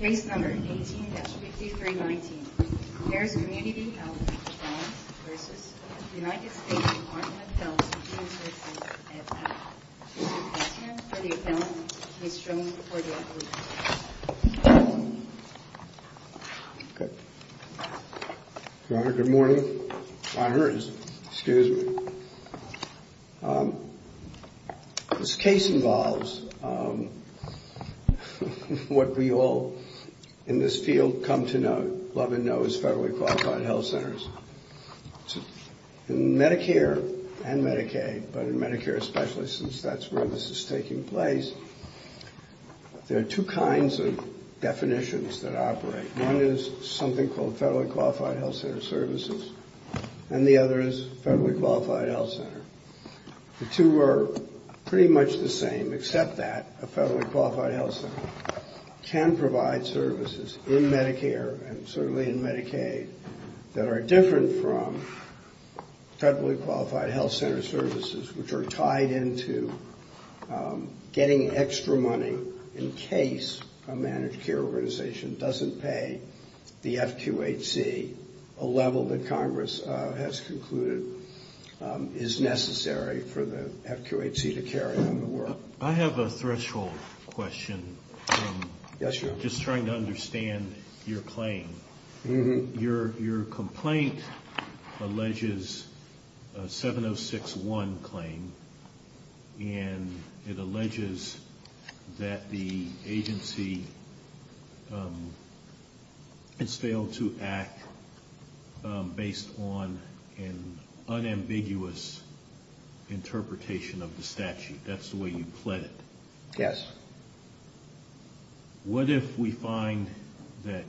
United States Department of Health and Human Services, Ed Powell. This is a question for the appellant, Ms. Stroman, before the appellant. Good morning. Excuse me. a case involving a woman who is a what we all in this field come to know, love and know as federally qualified health centers. In Medicare and Medicaid, but in Medicare especially since that's where this is taking place, there are two kinds of definitions that operate. One is something called federally qualified health center services, and the other is federally qualified health center. The two are pretty much the same except that a federally qualified health center can provide services in Medicare and certainly in Medicaid that are different from federally qualified health center services which are tied into getting extra money in case a managed care organization doesn't pay the FQHC a level that Congress has concluded is necessary for the I have a threshold question. Just trying to understand your claim. Your complaint alleges a 706.1 claim and it alleges that the agency has failed to act based on an unambiguous interpretation of the statute. That's the way you pled it. What if we find that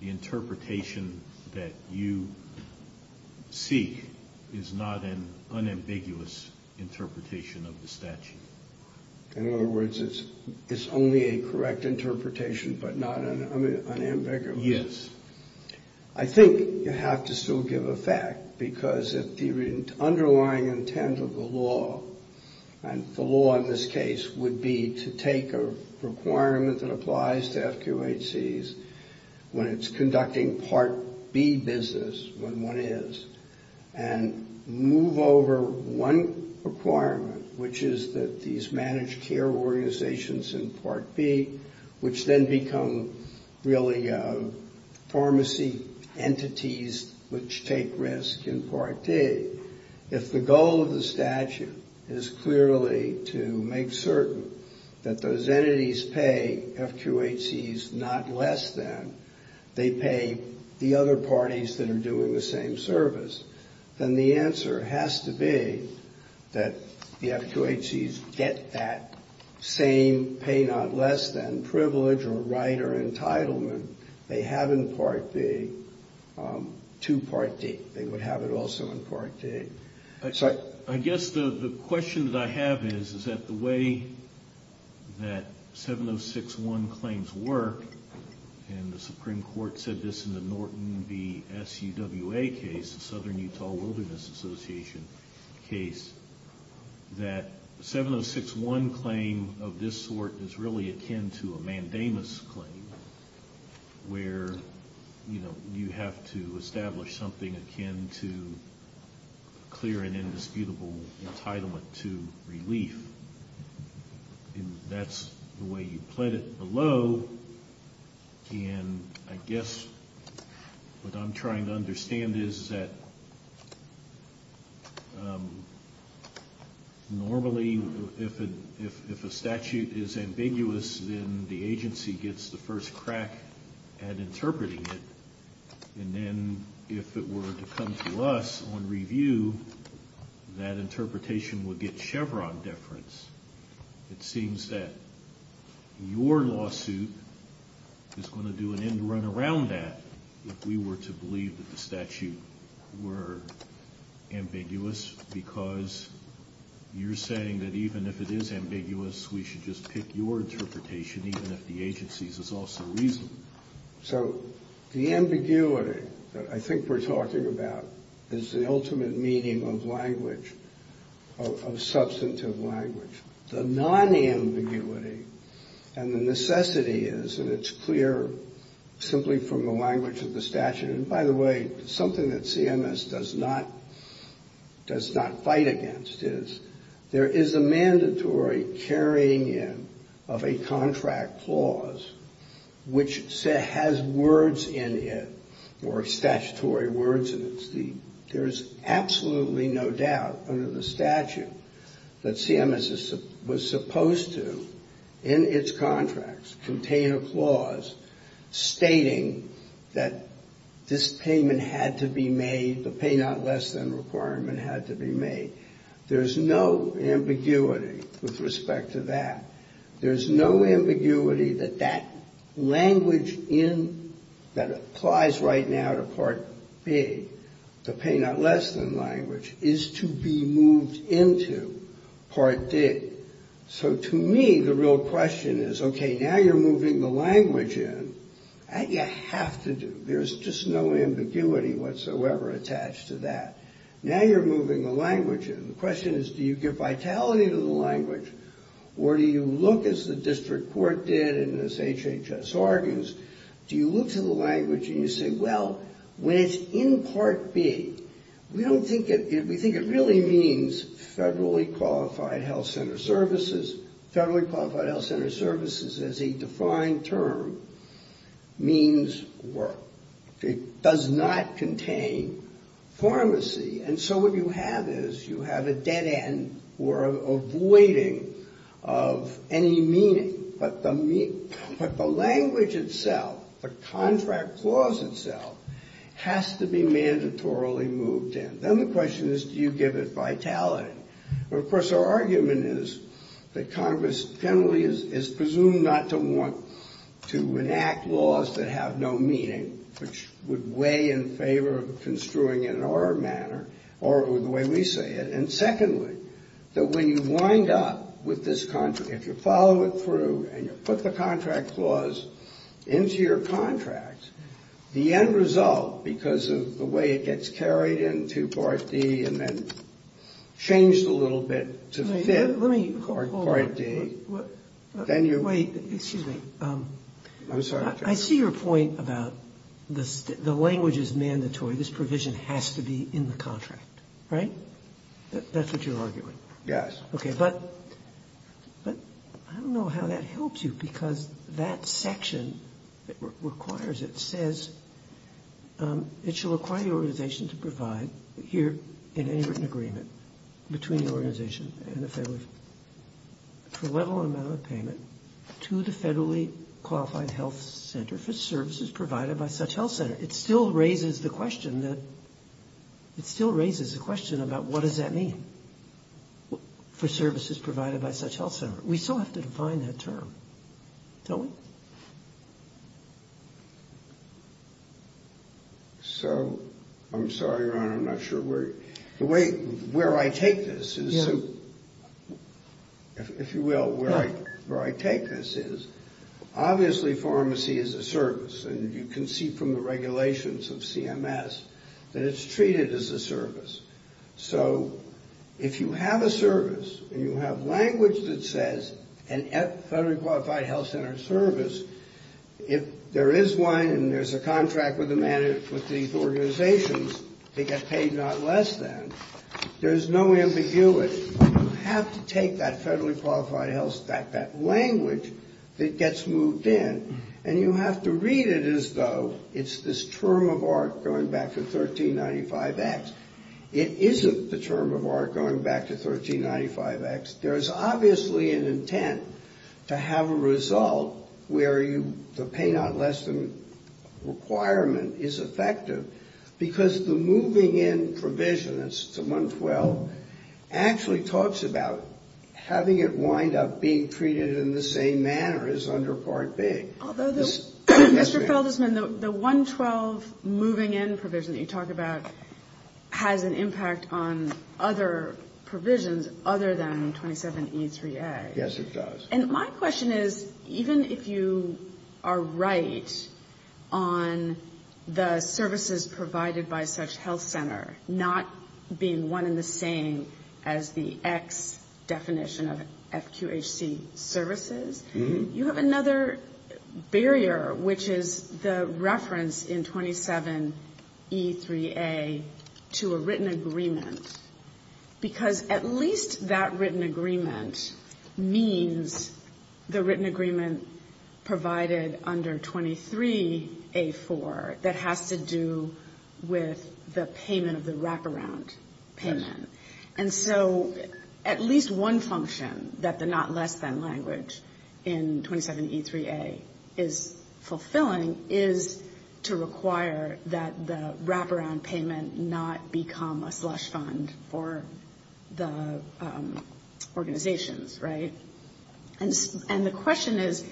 the interpretation that you seek is not an unambiguous interpretation of the statute? In other words, it's only a correct interpretation but not an unambiguous. I think you have to still give a fact because the underlying intent of the law and the law in this case would be to take a requirement that applies to FQHCs when it's conducting Part B business when one is and move over one requirement which is that these managed care organizations in Part B which then become really pharmacy entities which take risk in Part D. If the goal of the statute is clearly to make certain that those entities pay FQHCs not less than they pay the other parties that are doing the same service, then the answer has to be that the FQHCs get that same pay not less than privilege or right or entitlement they have in Part B to Part D. They would have it also in Part D. I guess the question that I have is that the way that 706.1 claims work and the Supreme Court said this in the Norton v. SUWA case, the Southern Utah Wilderness Association case, that 706.1 claim of this sort is really akin to a mandamus claim where you have to establish something akin to clear and indisputable entitlement to relief. That's the way you put it below and I guess what I'm trying to understand is that normally if a statute is ambiguous then the agency gets the first crack at interpreting it and then if it were to come to us on review that interpretation would get Chevron deference. It seems that your lawsuit is going to do an end run around that if we were to believe that the statute were ambiguous because you're saying that even if it is ambiguous we should just pick your case also reasonably. So the ambiguity that I think we're talking about is the ultimate meaning of language of substantive language. The non-ambiguity and the necessity is, and it's clear simply from the language of the statute, and by the way something that CMS does not fight against is there is a mandatory carrying in of a contract clause which has words in it or statutory words in it. There is absolutely no doubt under the statute that CMS was supposed to in its contracts contain a clause stating that this payment had to be made, the pay not less than requirement had to be made. There's no ambiguity with respect to that. There's no ambiguity that that language in that applies right now to Part B the pay not less than language is to be moved into Part D. So to me the real question is okay, now you're moving the language in. That you have to do. There's just no ambiguity whatsoever attached to that. Now you're moving the language in. The question is do you give vitality to the language or do you look as the district court did and as HHS argues, do you look to the language and you say well, when it's in Part B we don't think we think it really means federally qualified health center services federally qualified health center services as a defined term means work. It does not contain pharmacy and so what you have is you have a dead end or a voiding of any meaning. But the language itself the contract clause itself has to be mandatorily moved in. Then the question is do you give it vitality? Of course our argument is that Congress generally is presumed not to want to enact laws that have no meaning which would weigh in favor of construing it in our manner or the way we say it. And secondly, that when you wind up with this contract, if you follow it through and you put the contract clause into your contract, the end result because of the way it gets carried into Part D and then changed a little bit to fit Part D then you I see your point about the language is mandatory. This provision has to be in the contract. Right? That's what you're arguing. Yes. Okay. But I don't know how that helps you because that section that requires it says it shall require the organization to provide here in any written agreement between the organization and the federally for level and amount of payment to the federally qualified health center for services provided by such health center. It still raises the question that it still raises the question about what does that mean for services provided by such health center? We still have to define that term. Don't we? So I'm sorry, Ron. I'm not sure where the way where I take this is if you will where I take this is obviously pharmacy is a service and you can see from the regulations of CMS that it's treated as a service. So if you have a service and you have language that says a federally qualified health center service, if there is one and there's a contract with these organizations, they get paid not less than, there's no ambiguity. You have to take that federally qualified health that language that gets moved in and you have to read it as though it's this term of art going back to 1395X. It isn't the term of art going back to 1395X. There's obviously an intent to have a result where the pay not less than requirement is effective because the moving in provision, it's 112, actually talks about having it wind up being treated in the same manner as under Part B. Mr. Feldesman, the 112 moving in provision that you talk about has an impact on other provisions other than 27E3A. Yes, it does. And my question is even if you are right on the services provided by such health center not being one and the same as the X definition of FQHC services, you have another barrier which is the reference in 27E3A to a written agreement because at least that written agreement means the written agreement provided under 23A4 that has to do with the payment of the wraparound payment. And so at least one function that the not less than language in 27E3A is fulfilling is to require that the wraparound payment not become a slush fund for the organizations, right? And the question is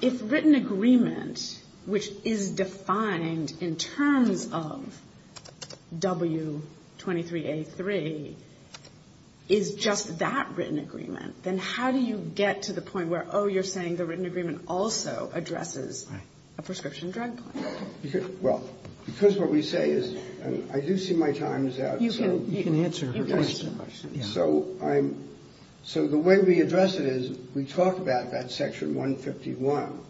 if written agreement which is defined in terms of W23A3 is just that written agreement, then how do you get to the point where, oh, you're saying the written agreement also addresses a prescription drug plan? Well, because what we say is and I do see my time is out. You can answer her question. So the way we address it is we talk about that Section 151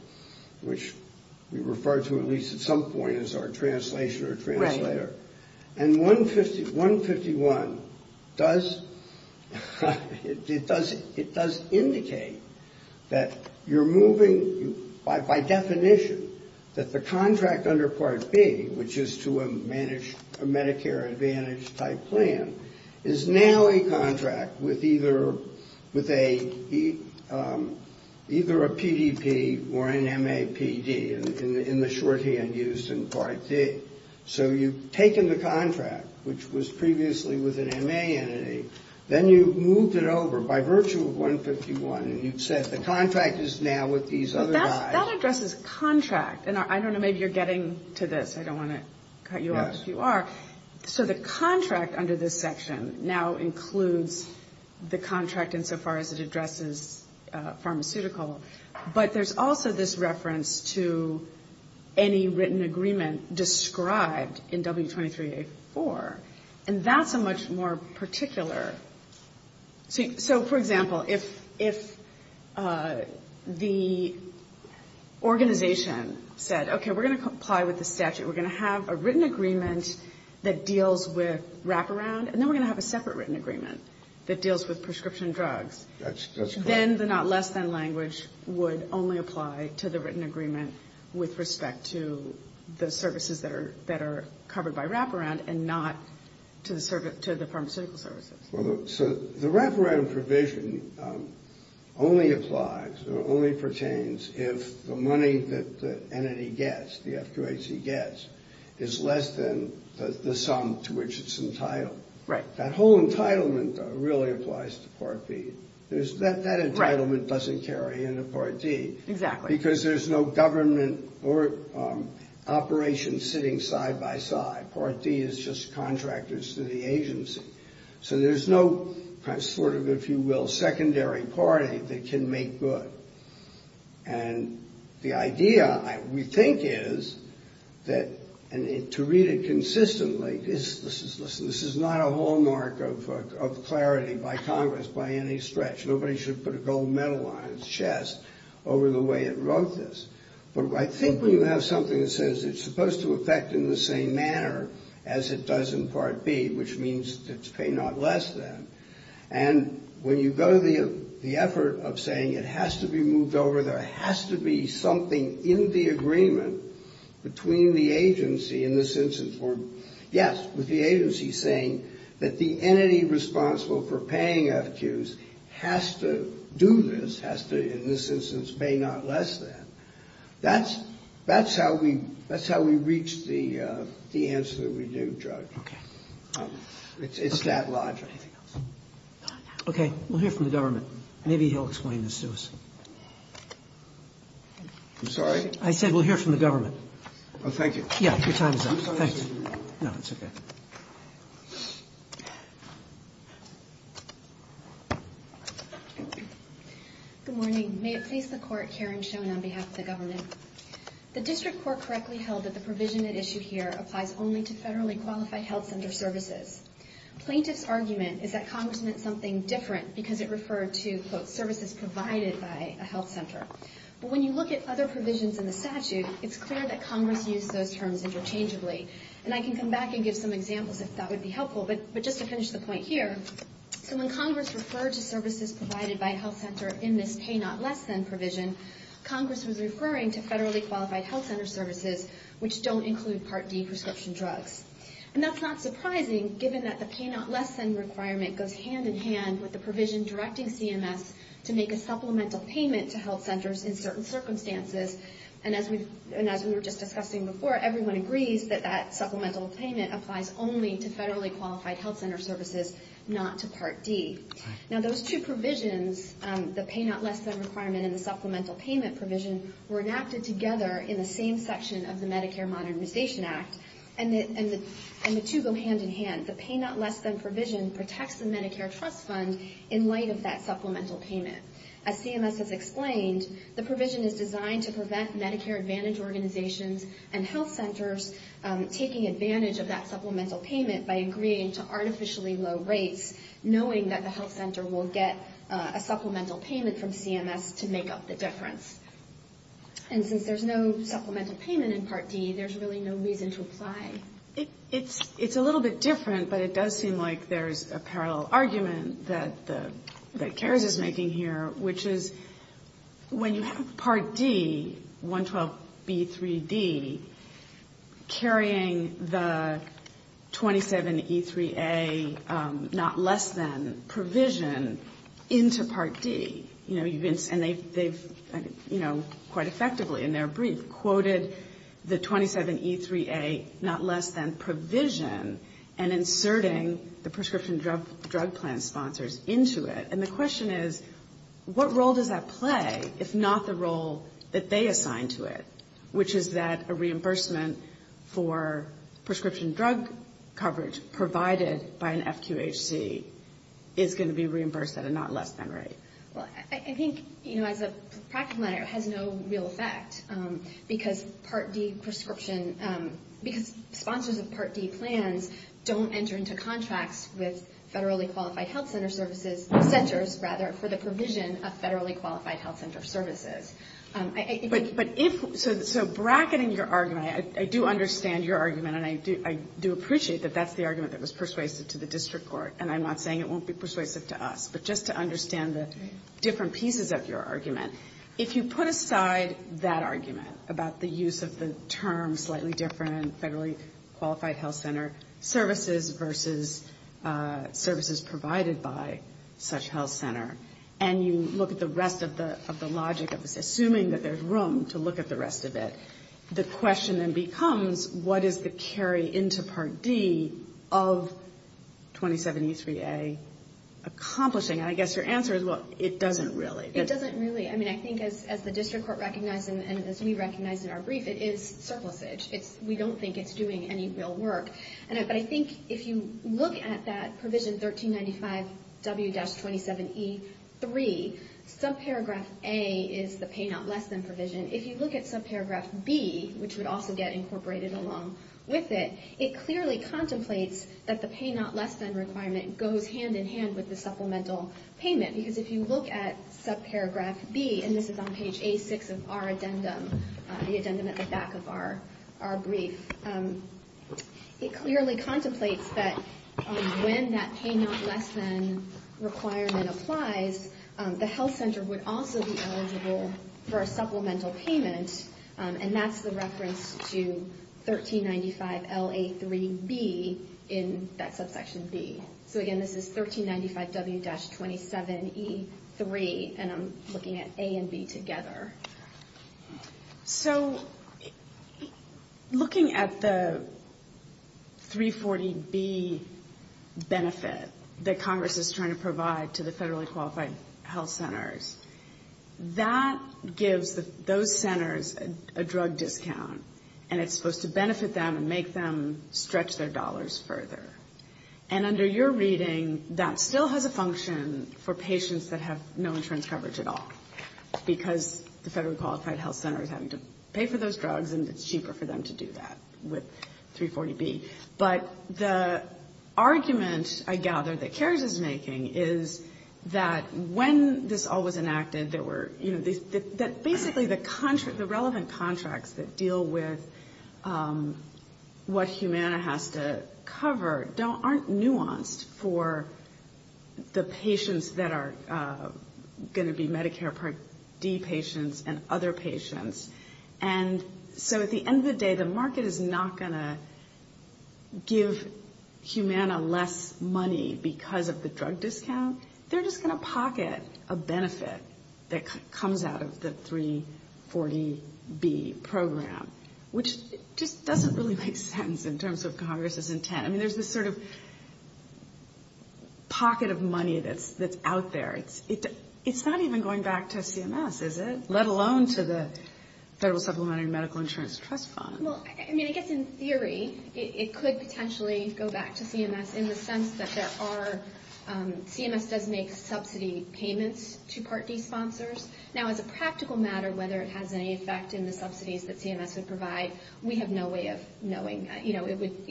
which we refer to at least at some point as our translation or translator. And 151 does it does indicate that you're moving by definition that the contract under Part B which is to a Medicare Advantage type plan is now a contract with either a PDP or an MAPD in the shorthand used in Part D. So you've taken the contract which was previously with an MA entity, then you've moved it over by virtue of 151 and you've said the contract is now with these other guys. That addresses contract. And I don't know, maybe you're getting to this. I don't want to cut you off if you are. So the contract under this section now includes the contract insofar as it addresses pharmaceutical. But there's also this reference to any written agreement described in W23A4. And that's a much more particular So, for example, if the organization said, okay, we're going to comply with the statute. We're going to have a written agreement that deals with wraparound. And then we're going to have a separate written agreement that deals with prescription drugs. Then the not less than language would only apply to the written agreement with respect to the services that are covered by wraparound and not to the pharmaceutical services. So the wraparound provision only applies or only pertains if the money that the entity gets, the FQAC gets, is less than the sum to which it's entitled. That whole entitlement really applies to Part B. That entitlement doesn't carry into Part D. Because there's no government operation sitting side by side. Part D is just contractors to the agency. So there's no sort of, if you will, secondary party that can make good. And the idea, we think, is that to read it consistently, this is not a hallmark of clarity by Congress by any stretch. Nobody should put a gold medal on its chest over the way it wrote this. But I think when you have something that says it's supposed to affect in the same manner as it does in Part B, which means it's pay not less than, and when you go to the effort of saying it has to be moved over, there has to be something in the agreement between the agency in this instance where yes, with the agency saying that the entity responsible for has to do this, has to in this instance pay not less than, that's how we reach the answer that we do, Judge. It's that logic. Okay. We'll hear from the government. Maybe he'll explain this to us. I'm sorry? I said we'll hear from the government. Oh, thank you. Yeah, your time is up. No, it's okay. Good morning. May it please the Court, Karen Schoen on behalf of the government. The District Court correctly held that the provision at issue here applies only to federally qualified health center services. Plaintiff's argument is that Congress meant something different because it referred to, quote, services provided by a health center. But when you look at other provisions in the statute, it's clear that Congress used those terms interchangeably. And I can come back and give some examples if that would be helpful. But just to finish the point here, so when Congress referred to services provided by a health center in this pay not less than provision, Congress was referring to federally qualified health center services which don't include Part D prescription drugs. And that's not surprising given that the pay not less than requirement goes hand in hand with the provision directing CMS to make a supplemental payment to health centers in certain circumstances. And as we were just saying, that supplemental payment applies only to federally qualified health center services, not to Part D. Now, those two provisions, the pay not less than requirement and the supplemental payment provision, were enacted together in the same section of the Medicare Modernization Act. And the two go hand in hand. The pay not less than provision protects the Medicare Trust Fund in light of that supplemental payment. As CMS has explained, the provision is designed to prevent Medicare Advantage organizations and health centers taking advantage of that supplemental payment by agreeing to artificially low rates, knowing that the health center will get a supplemental payment from CMS to make up the difference. And since there's no supplemental payment in Part D, there's really no reason to apply. It's a little bit different, but it does seem like there's a parallel argument that CARES is making here, which is when you have Part D, 112B3D carrying the 27E3A not less than provision into Part D, you know, and they've, you know, quite effectively in their brief quoted the 27E3A not less than provision and inserting the prescription drug plan sponsors into it. And the question is, what role does that play, if not the role that they assign to it, which is that a reimbursement for prescription drug coverage provided by an FQHC is going to be reimbursed at a not less than rate? Well, I think, you know, as a practical matter, it has no real effect because Part D prescription, because sponsors of Part D plans don't enter into contracts with federally qualified health center services, centers, rather, for the provision of federally qualified health centers. So bracketing your argument, I do understand your argument, and I do appreciate that that's the argument that was persuasive to the district court, and I'm not saying it won't be persuasive to us, but just to understand the different pieces of your argument, if you put aside that argument about the use of the term slightly different, federally qualified health center services versus services provided by such health center, and you look at the rest of the logic of this, assuming that there's room to look at the rest of it, the question then becomes, what is the carry into Part D of 27E3A accomplishing? And I guess your answer is, well, it doesn't really. It doesn't really. I mean, I think as the district court recognized and as we recognized in our brief, it is surplusage. We don't think it's doing any real work. But I think if you look at that provision 1395 W-27E3, subparagraph A is the pay not less than provision. If you look at subparagraph B, which would also get incorporated along with it, it clearly contemplates that the pay not less than requirement goes hand in hand with the supplemental payment, because if you look at subparagraph B, and this is on page A6 of our addendum, the addendum at the back of our brief, it clearly contemplates that when that pay not less than requirement applies, the health center would also be eligible for a supplemental payment, and that's the reference to 1395 LA3B in that subsection B. So again, this is 1395 W-27E3, and I'm looking at A and B together. So, looking at the 340B benefit that Congress is trying to provide to the federally qualified health centers, that gives those centers a drug discount, and it's supposed to benefit them and make them stretch their dollars further. And under your reading, that still has a function for patients that have no insurance coverage at all, because the federally qualified health centers have to pay for those drugs, and it's 340B. But the argument, I gather, that CARES is making is that when this all was enacted, there were, you know, basically the relevant contracts that deal with what Humana has to cover aren't nuanced for the patients that are going to be Medicare Part D patients and other patients. And so at the end of the day, the market is not going to give Humana less money because of the drug discount. They're just going to pocket a benefit that comes out of the 340B program, which just doesn't really make sense in terms of Congress's intent. I mean, there's this sort of pocket of money that's out there. It's not even going back to CMS, is it? Let alone to the bottom. Well, I mean, I guess in theory, it could potentially go back to CMS in the sense that there are CMS does make subsidy payments to Part D sponsors. Now, as a practical matter, whether it has any effect in the subsidies that CMS would provide, we have no way of knowing. You know, it would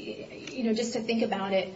just to think about it,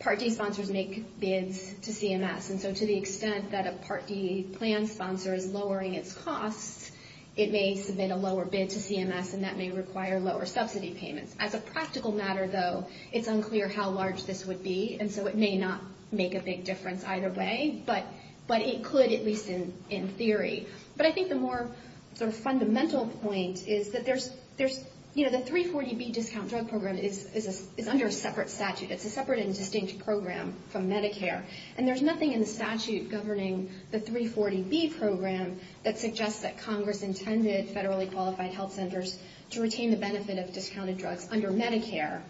Part D sponsors make bids to CMS. And so to the extent that a Part D plan sponsor is lowering its costs, it may submit a lower bid to CMS and that may require lower subsidy payments. As a practical matter, though, it's unclear how large this would be. And so it may not make a big difference either way. But it could, at least in theory. But I think the more sort of fundamental point is that the 340B discount drug program is under a separate statute. It's a separate and distinct program from Medicare. And there's nothing in the statute governing the 340B program that suggests that Congress intended federally qualified health centers to retain the benefit of discounted drugs under Medicare.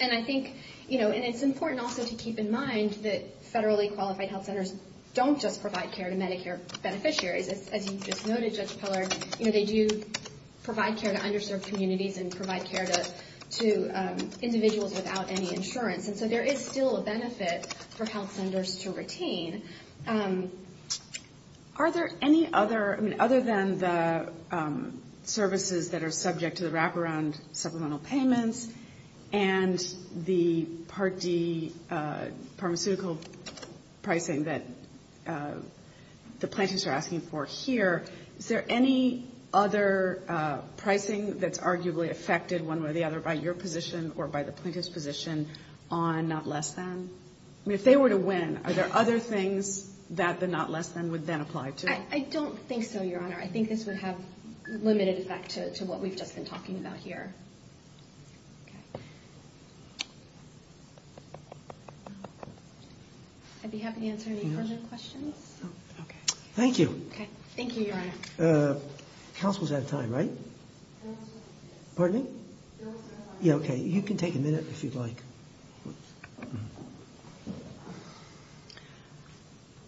And I think, you know, and it's important also to keep in mind that federally qualified health centers don't just provide care to Medicare beneficiaries. As you just noted, Judge Peller, you know, they do provide care to underserved communities and provide care to individuals without any insurance. And so there is still a benefit for health centers to retain. Are there any other I mean, other than the services that are subject to the wraparound supplemental payments and the Part D pharmaceutical pricing that the plaintiffs are asking for here, is there any other pricing that's arguably affected one way or the other by your position or by the plaintiff's position on not less than? I mean, if they were to win, are there other things that the not less than would then apply to? I don't think so, Your Honor. I think this would have limited effect to what we've just been talking about here. I'd be happy to answer any further questions. Thank you. Thank you, Your Honor. Counsel's out of time, right? Pardon me? Yeah, okay. You can take a minute if you'd like.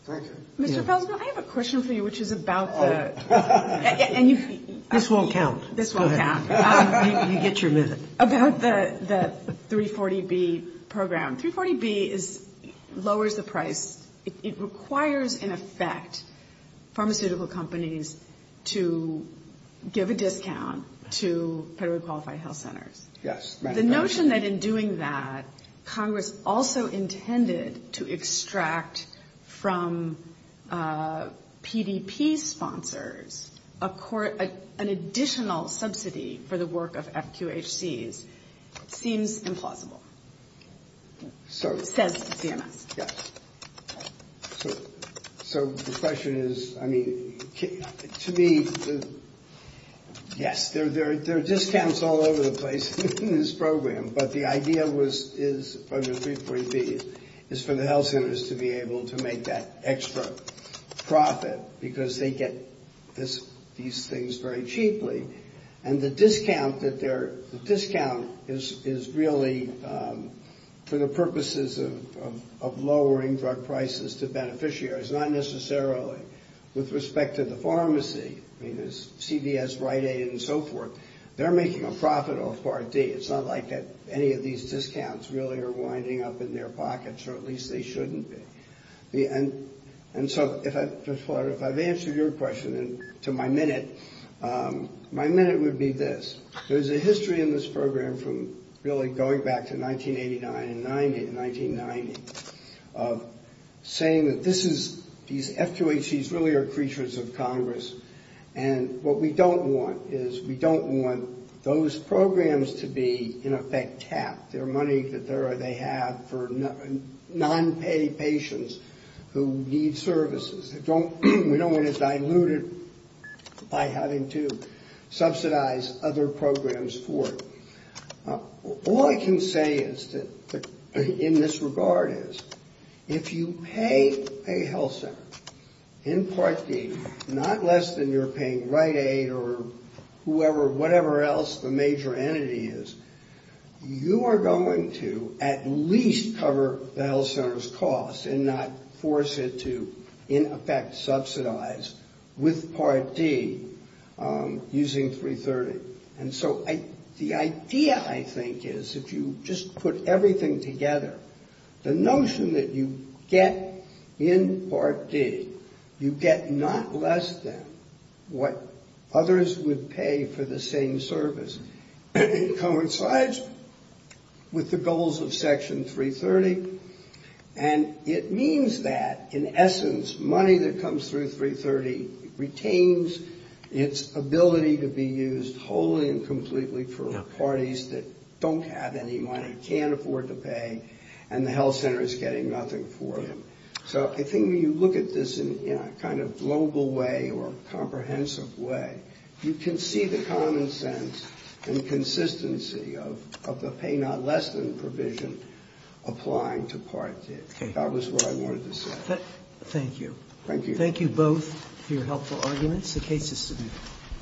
Thank you. Mr. Pelsman, I have a question for you, which is about the... This won't count. This won't count. You get your minute. About the 340B program. 340B lowers the price. It requires in effect pharmaceutical companies to give a discount to federally qualified health centers. The notion that in doing that, Congress also intended to extract from PDP sponsors an additional subsidy for the work of FQHCs seems implausible, says CMS. So the question is, I mean, to me, yes. There are discounts all over the place in this program, but the idea is, from the 340B, is for the health centers to be able to make that extra profit because they get these things very cheaply. And the discount that they're... The discount is really for the purposes of lowering drug prices to beneficiaries, not necessarily with respect to the pharmacy. I mean, there's CVS, Rite Aid, and so forth. They're making a profit off Part D. It's not like that any of these discounts really are winding up in their pockets, or at least they shouldn't be. And so, if I've answered your question to my minute, my minute would be this. There's a history in this program from really going back to 1989 and 1990 of saying that this is... These FQHCs really are creatures of Congress, and what we don't want is we don't want those programs to be, in effect, tapped. Their money that they have for non-paid patients who need services. We don't want it diluted by having to subsidize other programs for it. All I can say is in this regard is, if you pay a health center in Part D, not less than you're paying Rite Aid or whoever, whatever else the major entity is, you are going to at least cover the health center's costs and not force it to, in effect, subsidize with Part D using 330. And so, the idea, I think, is if you just put everything together, the notion that you get in Part D, you get not less than what others would pay for the same service, coincides with the goals of Section 330, and it means that, in essence, money that comes through 330 retains its ability to be used wholly and completely for parties that don't have any money, can't afford to pay, and the health center is getting nothing for them. So, I think when you look at this in a kind of global way or a comprehensive way, you can see the common sense and consistency of the pay not less than provision applying to Part D. That was what I wanted to say. Thank you. Thank you both for your helpful arguments.